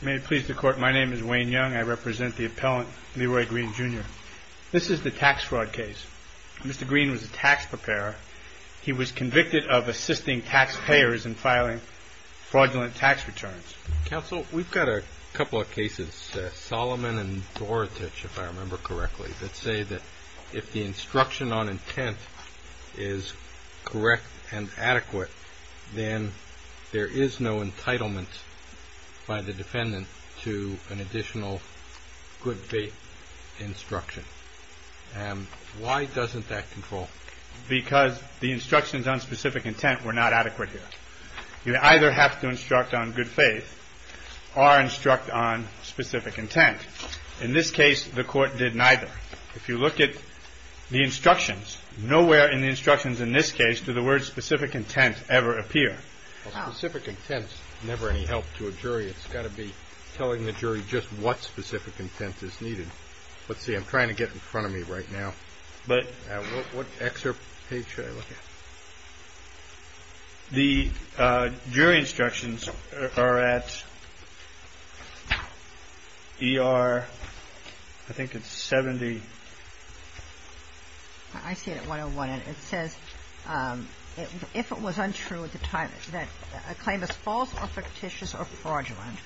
May it please the court, my name is Wayne Young. I represent the appellant Leroy Green Jr. This is the tax fraud case. Mr. Green was a tax preparer. He was convicted of assisting taxpayers in filing fraudulent tax returns. Counsel, we've got a couple of cases, Solomon and Dorotich, if I remember correctly, that say that if the instruction on intent is correct and adequate, then there is no entitlement by the defendant to an additional good faith instruction. And why doesn't that control? Because the instructions on specific intent were not adequate here. You either have to instruct on good faith or instruct on specific intent. In this case, the court did neither. If you look at the instructions, nowhere in the instructions in this case do the words specific intent ever appear. Specific intent is never any help to a jury. It's got to be telling the jury just what specific intent is needed. Let's see. I'm trying to get in front of me right now. But what excerpt page should I look at? The jury instructions are at ER, I think it's 70. I see it at 101. It says if it was untrue at the time that a claim is false or fictitious or fraudulent,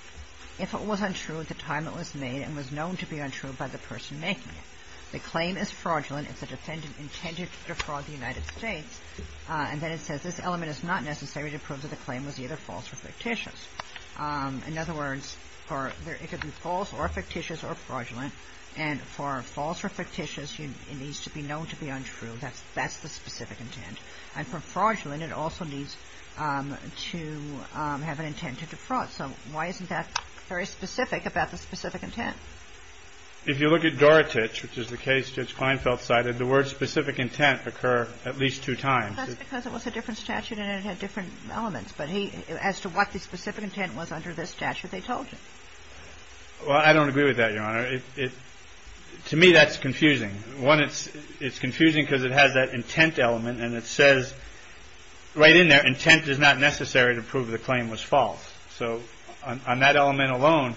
if it was untrue at the time it was made and was known to be untrue by the person making it. The claim is fraudulent if the defendant intended to defraud the United States. And then it says this element is not necessary to prove that the claim was either false or fictitious. In other words, it could be false or fictitious or fraudulent. And for false or fictitious, it needs to be known to be untrue. That's the specific intent. And for fraudulent, it also needs to have an intent to defraud. So why isn't that very specific about the specific intent? If you look at Dorotich, which is the case Judge Kleinfeld cited, the words specific intent occur at least two times. That's because it was a different statute and it had different elements. But as to what the specific intent was under this statute, they told you. Well, I don't agree with that, Your Honor. To me, that's confusing. One, it's confusing because it has that intent element. And it says right in there, intent is not necessary to prove the claim was false. So on that element alone,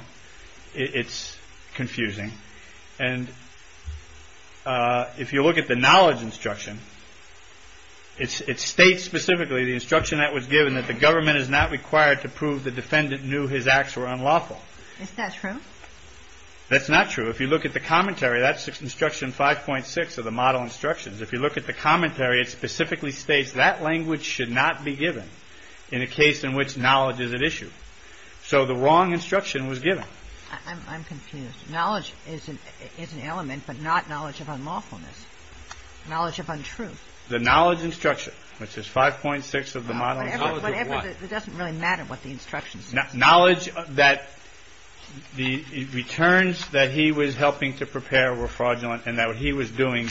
it's confusing. And if you look at the knowledge instruction, it states specifically, the instruction that was given, that the government is not required to prove the defendant knew his acts were unlawful. Is that true? That's not true. If you look at the commentary, that's instruction 5.6 of the model instructions. If you look at the commentary, it specifically states that language should not be given in a case in which knowledge is at issue. So the wrong instruction was given. I'm confused. Knowledge is an element, but not knowledge of unlawfulness, knowledge of untruth. The knowledge instruction, which is 5.6 of the model instructions. It doesn't really matter what the instruction says. The knowledge that the returns that he was helping to prepare were fraudulent and that what he was doing,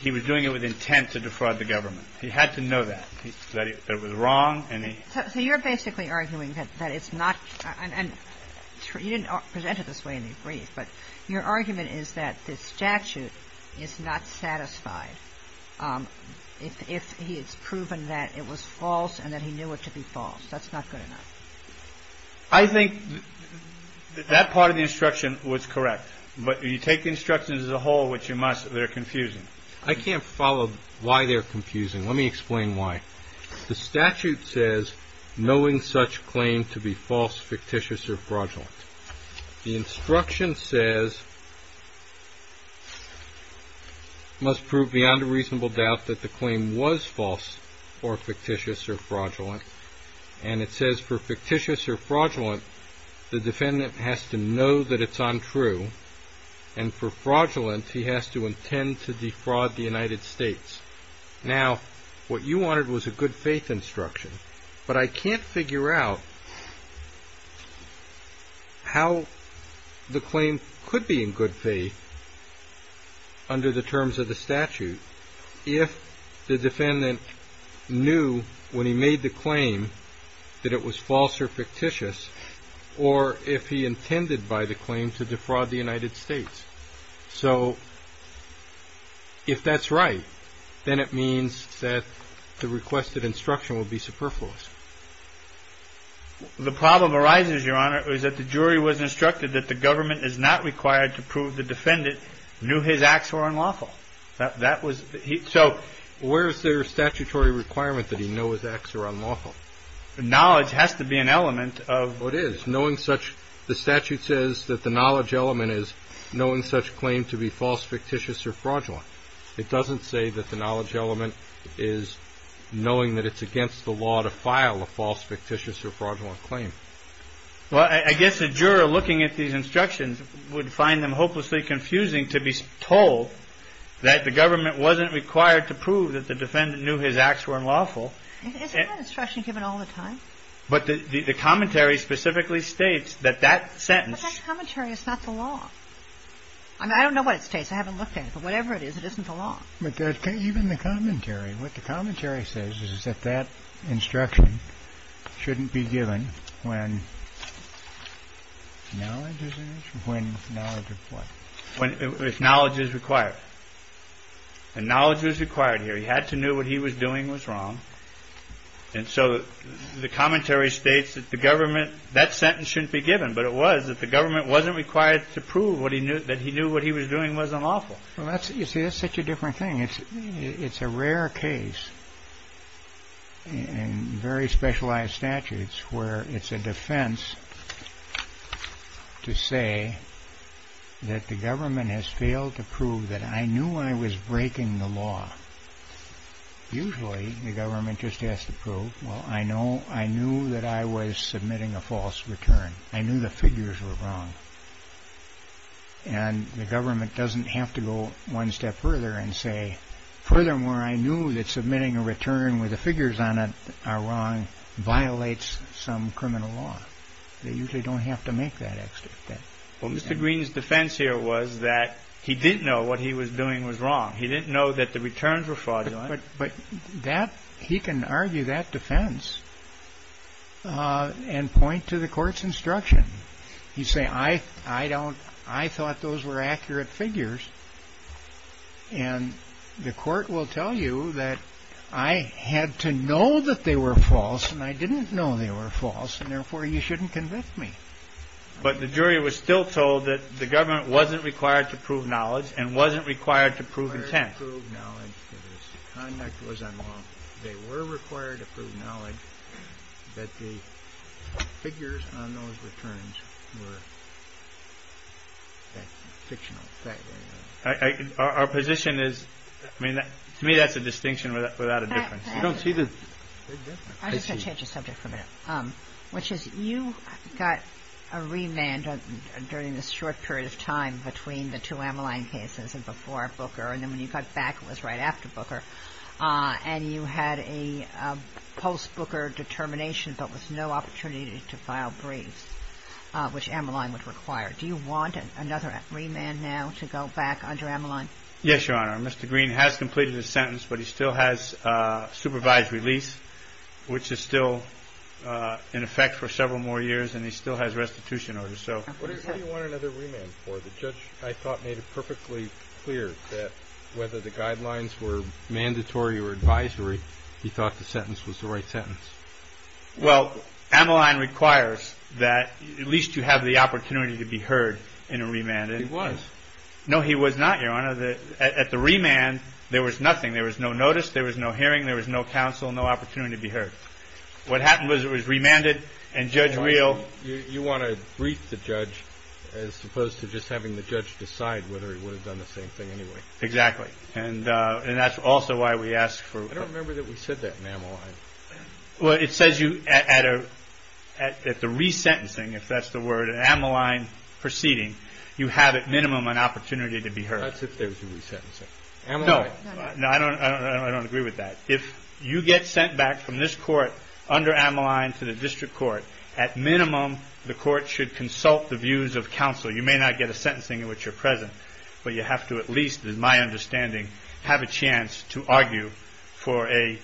he was doing it with intent to defraud the government. He had to know that, that it was wrong, and he... So you're basically arguing that it's not, and you didn't present it this way in the brief, but your argument is that the statute is not satisfied if he has proven that it was false and that he knew it to be false. That's not good enough. I think that that part of the instruction was correct. But you take instructions as a whole, which you must, they're confusing. I can't follow why they're confusing. Let me explain why. The statute says, knowing such claim to be false, fictitious or fraudulent. The instruction says, must prove beyond a reasonable doubt that the claim was false or fictitious or fraudulent. And it says for fictitious or fraudulent, the defendant has to know that it's untrue. And for fraudulent, he has to intend to defraud the United States. Now, what you wanted was a good faith instruction. But I can't figure out how the claim could be in good faith under the terms of the statute, if the defendant knew when he made the claim that it was false or fictitious, or if he intended by the claim to defraud the United States. So if that's right, then it means that the requested instruction will be superfluous. The problem arises, Your Honor, is that the jury was instructed that the government is not required to prove the defendant knew his acts were unlawful. That was he. So where is there a statutory requirement that he know his acts are unlawful? The knowledge has to be an element of what is knowing such. The statute says that the knowledge element is knowing such claim to be false, fictitious or fraudulent. It doesn't say that the knowledge element is knowing that it's against the law to file a false, fictitious or fraudulent claim. Well, I guess the juror looking at these instructions would find them hopelessly confusing to be told that the government wasn't required to prove that the defendant knew his acts were unlawful. It's not an instruction given all the time. But the commentary specifically states that that sentence. But that commentary is not the law. I mean, I don't know what it states. I haven't looked at it. But whatever it is, it isn't the law. Even the commentary, what the commentary says is that that instruction shouldn't be given when knowledge is required. And knowledge is required here. He had to know what he was doing was wrong. And so the commentary states that the government that sentence shouldn't be given. But it was that the government wasn't required to prove what he knew that he knew what he was doing was unlawful. Well, you see, that's such a different thing. It's a rare case in very specialized statutes where it's a defense to say that the government has failed to prove that I knew I was breaking the law. Usually, the government just has to prove, well, I knew that I was submitting a false return. I knew the figures were wrong. And the government doesn't have to go one step further and say, furthermore, I knew that submitting a return with the figures on it are wrong, violates some criminal law. They usually don't have to make that extra step. Well, Mr. Green's defense here was that he didn't know what he was doing was wrong. He didn't know that the returns were fraudulent. But that he can argue that defense and point to the court's instruction. You say, I thought those were accurate figures. And the court will tell you that I had to know that they were false, and I didn't know they were false. And, therefore, you shouldn't convict me. But the jury was still told that the government wasn't required to prove knowledge and wasn't required to prove intent. The conduct was unlawful. They were required to prove knowledge, but the figures on those returns were fictional. Our position is, I mean, to me, that's a distinction without a difference. I don't see the big difference. I'm just going to change the subject for a minute, which is you got a remand during this short period of time between the two Ammaline cases and before Booker. And then when you got back, it was right after Booker. And you had a post-Booker determination, but with no opportunity to file briefs, which Ammaline would require. Do you want another remand now to go back under Ammaline? Yes, Your Honor. Mr. Green has completed his sentence, but he still has supervised release, which is still in effect for several more years, and he still has restitution orders. What do you want another remand for? The judge, I thought, made it perfectly clear that whether the guidelines were mandatory or advisory, he thought the sentence was the right sentence. Well, Ammaline requires that at least you have the opportunity to be heard in a remand. He was. No, he was not, Your Honor. At the remand, there was nothing. There was no notice. There was no hearing. There was no counsel, no opportunity to be heard. What happened was it was remanded, and Judge Reel— You want to brief the judge as opposed to just having the judge decide whether he would have done the same thing anyway. Exactly, and that's also why we asked for— I don't remember that we said that in Ammaline. Well, it says at the resentencing, if that's the word, an Ammaline proceeding, you have at minimum an opportunity to be heard. That's if there was a resentencing. No, I don't agree with that. If you get sent back from this court under Ammaline to the district court, at minimum the court should consult the views of counsel. You may not get a sentencing in which you're present, but you have to at least, in my understanding, have a chance to argue for a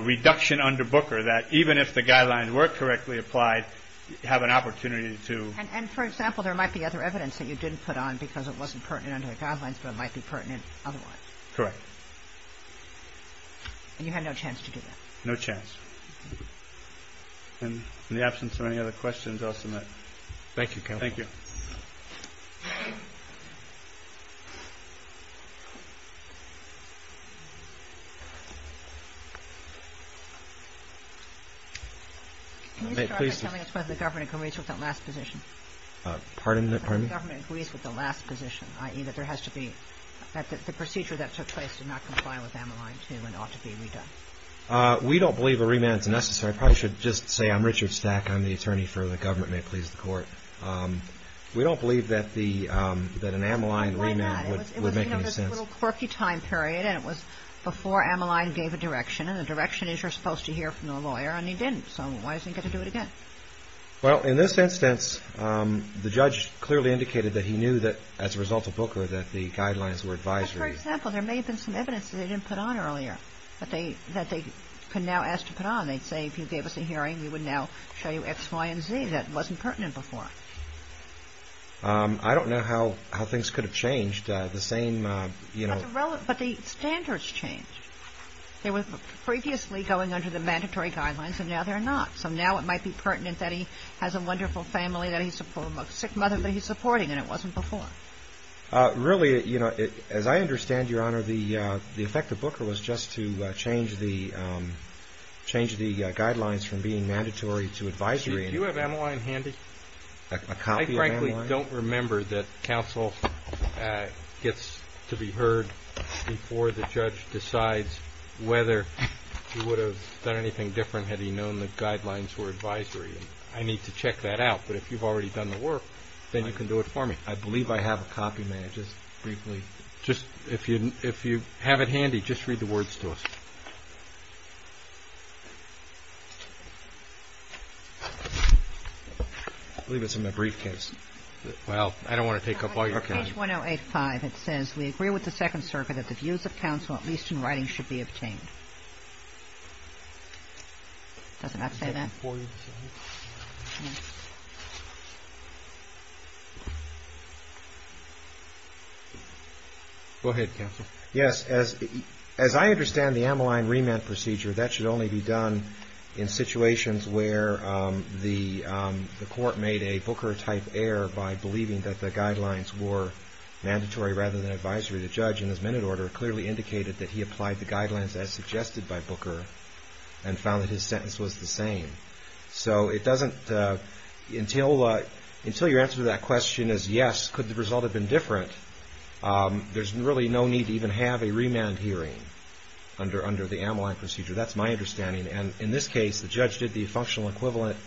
reduction under Booker that even if the guidelines were correctly applied, you have an opportunity to— And, for example, there might be other evidence that you didn't put on because it wasn't pertinent under the guidelines, but it might be pertinent otherwise. Correct. And you had no chance to do that? No chance. In the absence of any other questions, I'll submit. Thank you, counsel. Thank you. Can you start by telling us whether the government agrees with that last position? Pardon me? Whether the government agrees with the last position, i.e. that there has to be— We don't believe a remand is necessary. I probably should just say I'm Richard Stack. I'm the attorney for the government. May it please the court. We don't believe that an Ammaline remand would make any sense. Why not? It was a little quirky time period, and it was before Ammaline gave a direction, and the direction is you're supposed to hear from the lawyer, and he didn't. So why is he going to do it again? Well, in this instance, the judge clearly indicated that he knew that as a result of Booker that the guidelines were advisory. Well, for example, there may have been some evidence that they didn't put on earlier that they can now ask to put on. They'd say if you gave us a hearing, we would now show you X, Y, and Z. That wasn't pertinent before. I don't know how things could have changed. The same, you know— But the standards changed. They were previously going under the mandatory guidelines, and now they're not. So now it might be pertinent that he has a wonderful family, that he's a sick mother that he's supporting, and it wasn't before. Really, as I understand, Your Honor, the effect of Booker was just to change the guidelines from being mandatory to advisory. Do you have Ammaline handy? A copy of Ammaline? I frankly don't remember that counsel gets to be heard before the judge decides whether he would have done anything different had he known the guidelines were advisory. I need to check that out, but if you've already done the work, then you can do it for me. I believe I have a copy, ma'am, just briefly. If you have it handy, just read the words to us. I believe it's in my briefcase. Well, I don't want to take up all your time. Page 1085. It says, Go ahead, counsel. Yes. As I understand the Ammaline remand procedure, that should only be done in situations where the court made a Booker-type error by believing that the guidelines were mandatory rather than advisory. The judge, in his minute order, clearly indicated that he applied the guidelines as suggested by Booker and found that his sentence was the same. So it doesn't, until your answer to that question is yes, could the result have been different, there's really no need to even have a remand hearing under the Ammaline procedure. That's my understanding. And in this case, the judge did the functional equivalent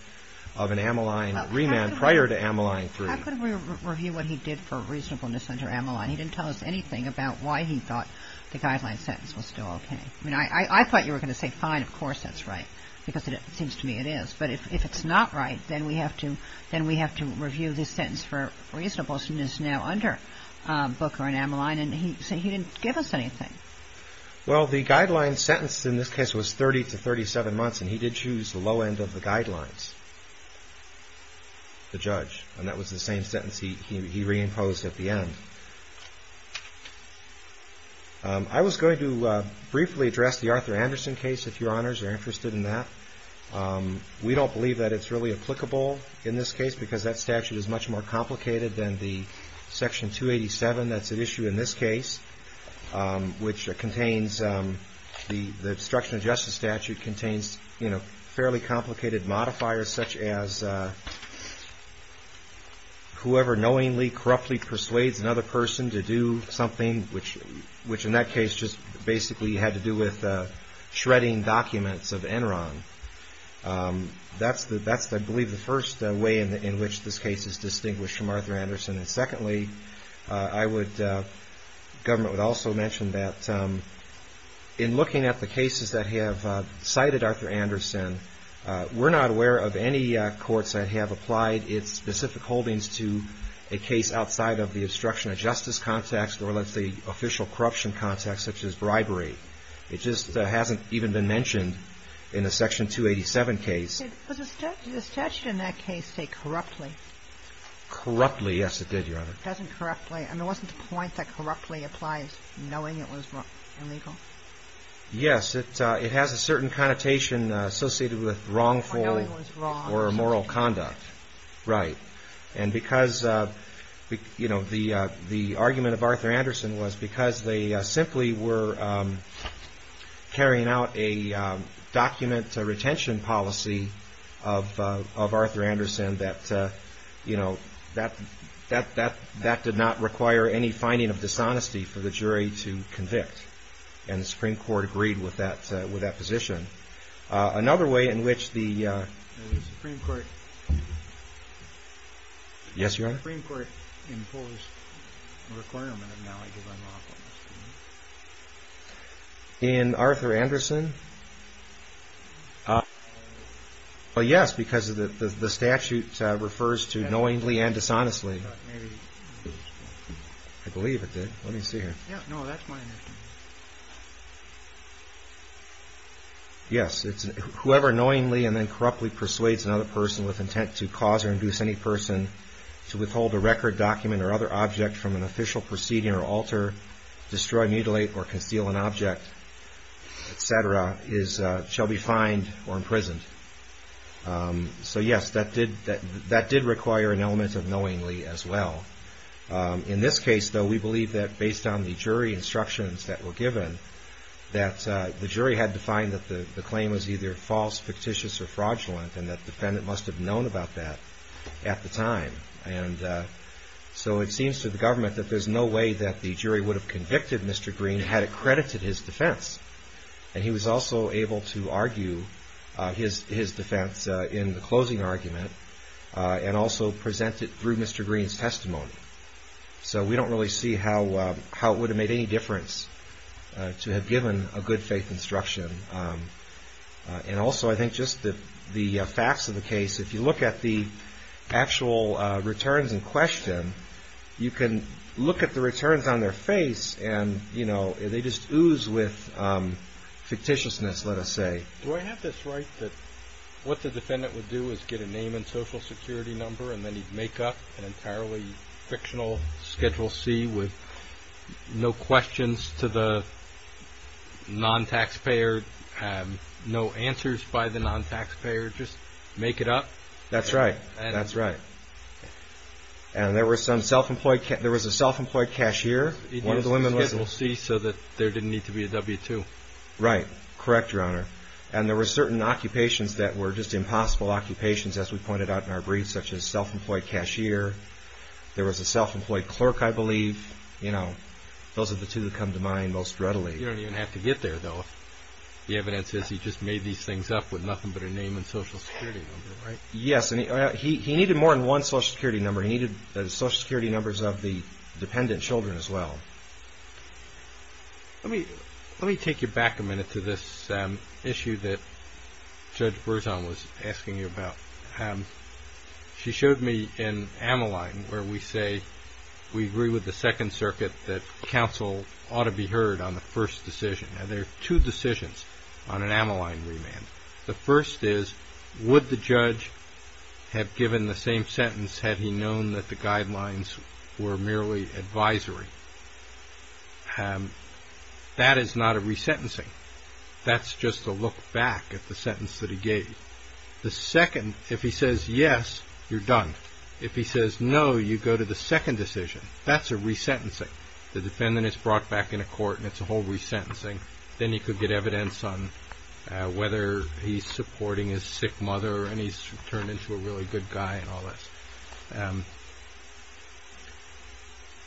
of an Ammaline remand prior to Ammaline 3. How could we review what he did for reasonableness under Ammaline? He didn't tell us anything about why he thought the guideline sentence was still okay. I mean, I thought you were going to say, fine, of course that's right, because it seems to me it is, but if it's not right, then we have to review this sentence for reasonableness now under Booker and Ammaline, and he didn't give us anything. Well, the guideline sentence in this case was 30 to 37 months, and he did choose the low end of the guidelines, the judge, and that was the same sentence he reimposed at the end. I was going to briefly address the Arthur Anderson case, if Your Honors are interested in that. We don't believe that it's really applicable in this case, because that statute is much more complicated than the Section 287 that's at issue in this case, which contains the obstruction of justice statute contains fairly complicated modifiers, such as whoever knowingly, corruptly persuades another person to do something, which in that case just basically had to do with shredding documents of Enron. That's, I believe, the first way in which this case is distinguished from Arthur Anderson, and secondly, I would, the government would also mention that in looking at the cases that have cited Arthur Anderson, we're not aware of any courts that have applied its specific holdings to a case outside of the obstruction of justice context or, let's say, official corruption context, such as bribery. It just hasn't even been mentioned in the Section 287 case. Did the statute in that case say corruptly? Corruptly, yes, it did, Your Honor. It doesn't corruptly. I mean, wasn't the point that corruptly applies knowing it was illegal? Yes, it has a certain connotation associated with wrongful or immoral conduct. Right. And because, you know, the argument of Arthur Anderson was because they simply were carrying out a document retention policy of Arthur Anderson that, you know, that did not require any finding of dishonesty for the jury to convict. And the Supreme Court agreed with that position. Another way in which the Supreme Court imposed a requirement of knowledge of unlawfulness. In Arthur Anderson? Well, yes, because the statute refers to knowingly and dishonestly. I believe it did. Let me see here. No, that's my understanding. Yes, it's whoever knowingly and then corruptly persuades another person with intent to cause or induce any person to withhold a record, document, or other object from an official proceeding or alter, destroy, mutilate, or conceal an object, et cetera, shall be fined or imprisoned. So, yes, that did require an element of knowingly as well. In this case, though, we believe that based on the jury instructions that were given, that the jury had to find that the claim was either false, fictitious, or fraudulent, and that the defendant must have known about that at the time. And so it seems to the government that there's no way that the jury would have convicted Mr. Green had it credited his defense. And he was also able to argue his defense in the closing argument and also present it through Mr. Green's testimony. So we don't really see how it would have made any difference to have given a good faith instruction. And also I think just the facts of the case, if you look at the actual returns in question, you can look at the returns on their face and, you know, they just ooze with fictitiousness, let us say. Do I have this right that what the defendant would do is get a name and social security number and then he'd make up an entirely fictional Schedule C with no questions to the non-taxpayer, no answers by the non-taxpayer, just make it up? That's right. That's right. And there was a self-employed cashier. He did a Schedule C so that there didn't need to be a W-2. Right. Correct, Your Honor. And there were certain occupations that were just impossible occupations, as we pointed out in our briefs, such as self-employed cashier. There was a self-employed clerk, I believe. You know, those are the two that come to mind most readily. You don't even have to get there, though. The evidence is he just made these things up with nothing but a name and social security number, right? Yes, and he needed more than one social security number. He needed the social security numbers of the dependent children as well. Let me take you back a minute to this issue that Judge Berzon was asking you about. She showed me an amyline where we say we agree with the Second Circuit that counsel ought to be heard on the first decision. Now, there are two decisions on an amyline remand. The first is, would the judge have given the same sentence had he known that the guidelines were merely advisory? That is not a resentencing. That's just a look back at the sentence that he gave. The second, if he says yes, you're done. If he says no, you go to the second decision. That's a resentencing. The defendant is brought back into court and it's a whole resentencing. Then he could get evidence on whether he's supporting his sick mother and he's turned into a really good guy and all this.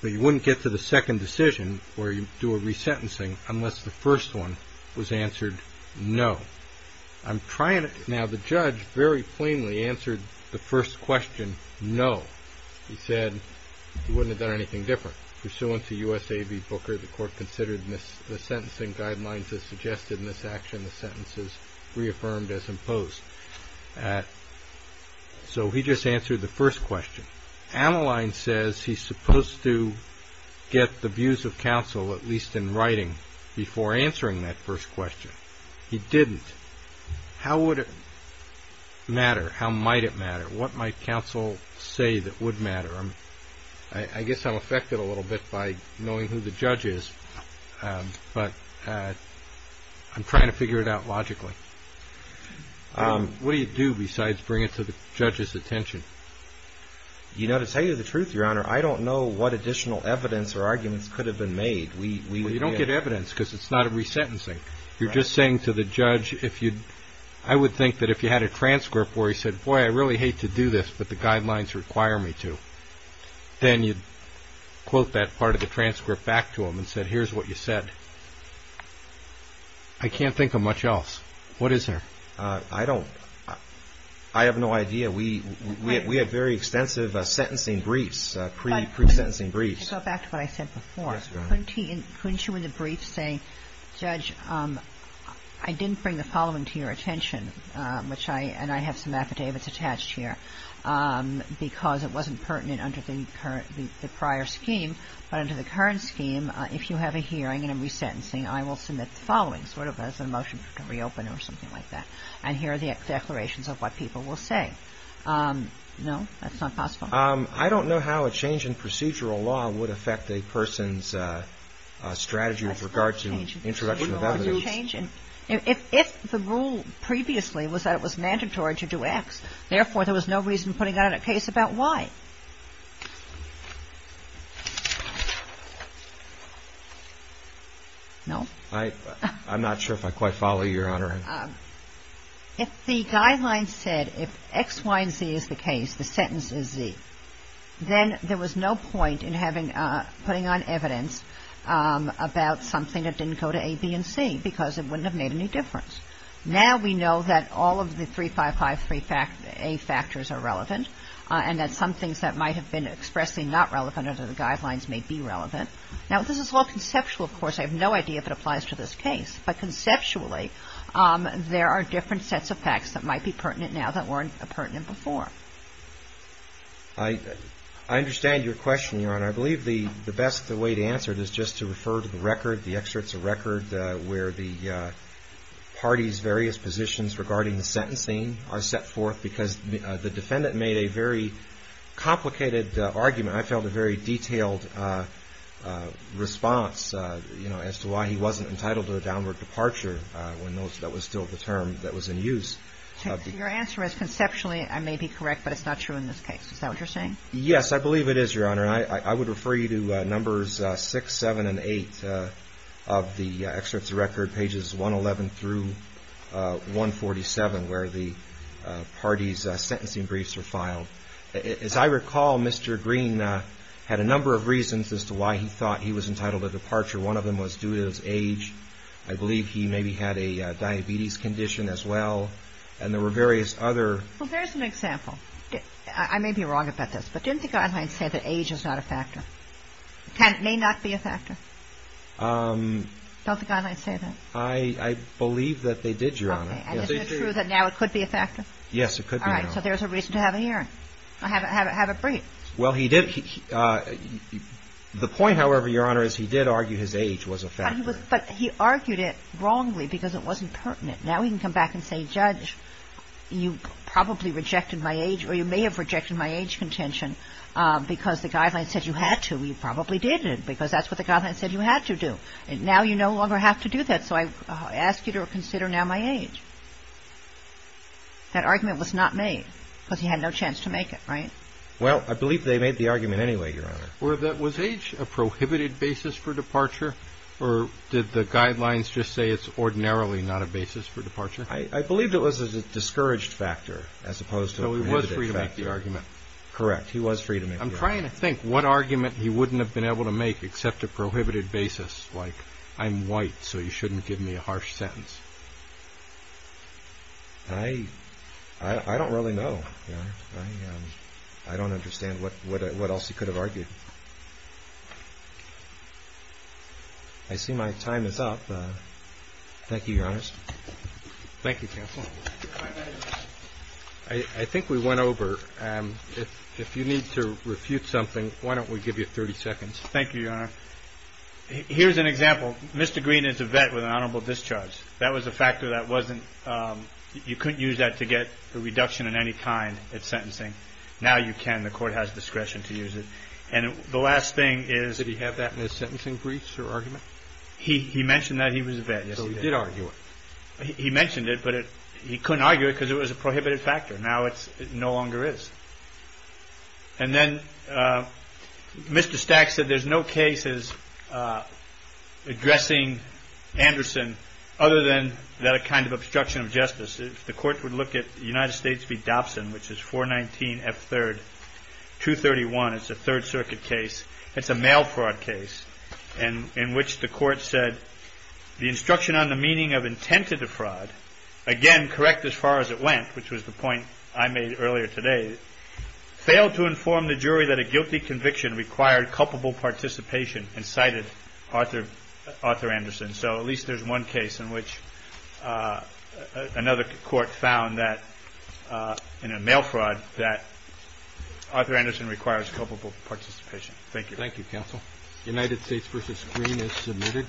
But you wouldn't get to the second decision where you do a resentencing unless the first one was answered no. Now, the judge very plainly answered the first question no. He said he wouldn't have done anything different. Pursuant to USA v. Booker, the court considered the sentencing guidelines as suggested in this action. The sentence is reaffirmed as imposed. So he just answered the first question. Amyline says he's supposed to get the views of counsel, at least in writing, before answering that first question. He didn't. How would it matter? How might it matter? What might counsel say that would matter? I guess I'm affected a little bit by knowing who the judge is, but I'm trying to figure it out logically. What do you do besides bring it to the judge's attention? You know, to tell you the truth, Your Honor, I don't know what additional evidence or arguments could have been made. We don't get evidence because it's not a resentencing. You're just saying to the judge if you'd – I would think that if you had a transcript where he said, boy, I really hate to do this, but the guidelines require me to, then you'd quote that part of the transcript back to him and say, here's what you said. I can't think of much else. What is there? I don't – I have no idea. We have very extensive sentencing briefs, pre-sentencing briefs. So back to what I said before. Yes, Your Honor. Couldn't you in the brief say, Judge, I didn't bring the following to your attention, which I – and I have some affidavits attached here because it wasn't pertinent under the prior scheme. But under the current scheme, if you have a hearing and I'm resentencing, I will submit the following sort of as a motion to reopen or something like that. And here are the declarations of what people will say. No? That's not possible? I don't know how a change in procedural law would affect a person's strategy with regard to introduction of evidence. If the rule previously was that it was mandatory to do X, therefore, there was no reason putting out a case about Y. No? I'm not sure if I quite follow you, Your Honor. If the guidelines said if X, Y, and Z is the case, the sentence is Z, then there was no point in having – putting on evidence about something that didn't go to A, B, and C because it wouldn't have made any difference. Now we know that all of the three, five, five, three A factors are relevant and that some things that might have been expressly not relevant under the guidelines may be relevant. Now, this is all conceptual, of course. I have no idea if it applies to this case. But conceptually, there are different sets of facts that might be pertinent now that weren't pertinent before. I understand your question, Your Honor. I believe the best way to answer it is just to refer to the record, the excerpts of record, where the parties' various positions regarding the sentencing are set forth because the defendant made a very complicated argument. I felt a very detailed response as to why he wasn't entitled to a downward departure when that was still the term that was in use. Your answer is conceptually I may be correct, but it's not true in this case. Is that what you're saying? Yes, I believe it is, Your Honor. I would refer you to Numbers 6, 7, and 8 of the excerpts of record, pages 111 through 147, where the parties' sentencing briefs are filed. As I recall, Mr. Green had a number of reasons as to why he thought he was entitled to departure. One of them was due to his age. I believe he maybe had a diabetes condition as well. And there were various other... Well, there's an example. I may be wrong about this, but didn't the guidelines say that age is not a factor? May not be a factor? Don't the guidelines say that? I believe that they did, Your Honor. Okay. And isn't it true that now it could be a factor? Yes, it could be now. All right. So there's a reason to have a hearing. Have a brief. Well, he did. The point, however, Your Honor, is he did argue his age was a factor. But he argued it wrongly because it wasn't pertinent. Now he can come back and say, Judge, you probably rejected my age or you may have rejected my age contention because the guidelines said you had to. You probably didn't because that's what the guidelines said you had to do. Now you no longer have to do that, so I ask you to consider now my age. That argument was not made because he had no chance to make it, right? Well, I believe they made the argument anyway, Your Honor. Was age a prohibited basis for departure or did the guidelines just say it's ordinarily not a basis for departure? I believe it was a discouraged factor as opposed to a prohibited factor. So he was free to make the argument? Correct. He was free to make the argument. I'm trying to think what argument he wouldn't have been able to make except a prohibited basis like, I'm white, so you shouldn't give me a harsh sentence. I don't really know. I don't understand what else he could have argued. I see my time is up. Thank you, Your Honor. Thank you, counsel. I think we went over. If you need to refute something, why don't we give you 30 seconds? Thank you, Your Honor. Here's an example. Mr. Green is a vet with an honorable discharge. That was a factor that wasn't, you couldn't use that to get a reduction in any kind at sentencing. Now you can. The court has discretion to use it. And the last thing is. Did he have that in his sentencing briefs, your argument? He mentioned that he was a vet. So he did argue it. He mentioned it, but he couldn't argue it because it was a prohibited factor. Now it no longer is. And then Mr. Stack said there's no cases addressing Anderson other than that kind of obstruction of justice. If the court would look at the United States v. Dobson, which is 419F3, 231. It's a Third Circuit case. It's a mail fraud case in which the court said the instruction on the meaning of intent of the fraud, again, correct as far as it went, which was the point I made earlier today, failed to inform the jury that a guilty conviction required culpable participation and cited Arthur Anderson. So at least there's one case in which another court found that in a mail fraud that Arthur Anderson requires culpable participation. Thank you. Thank you, counsel. United States v. Green is submitted.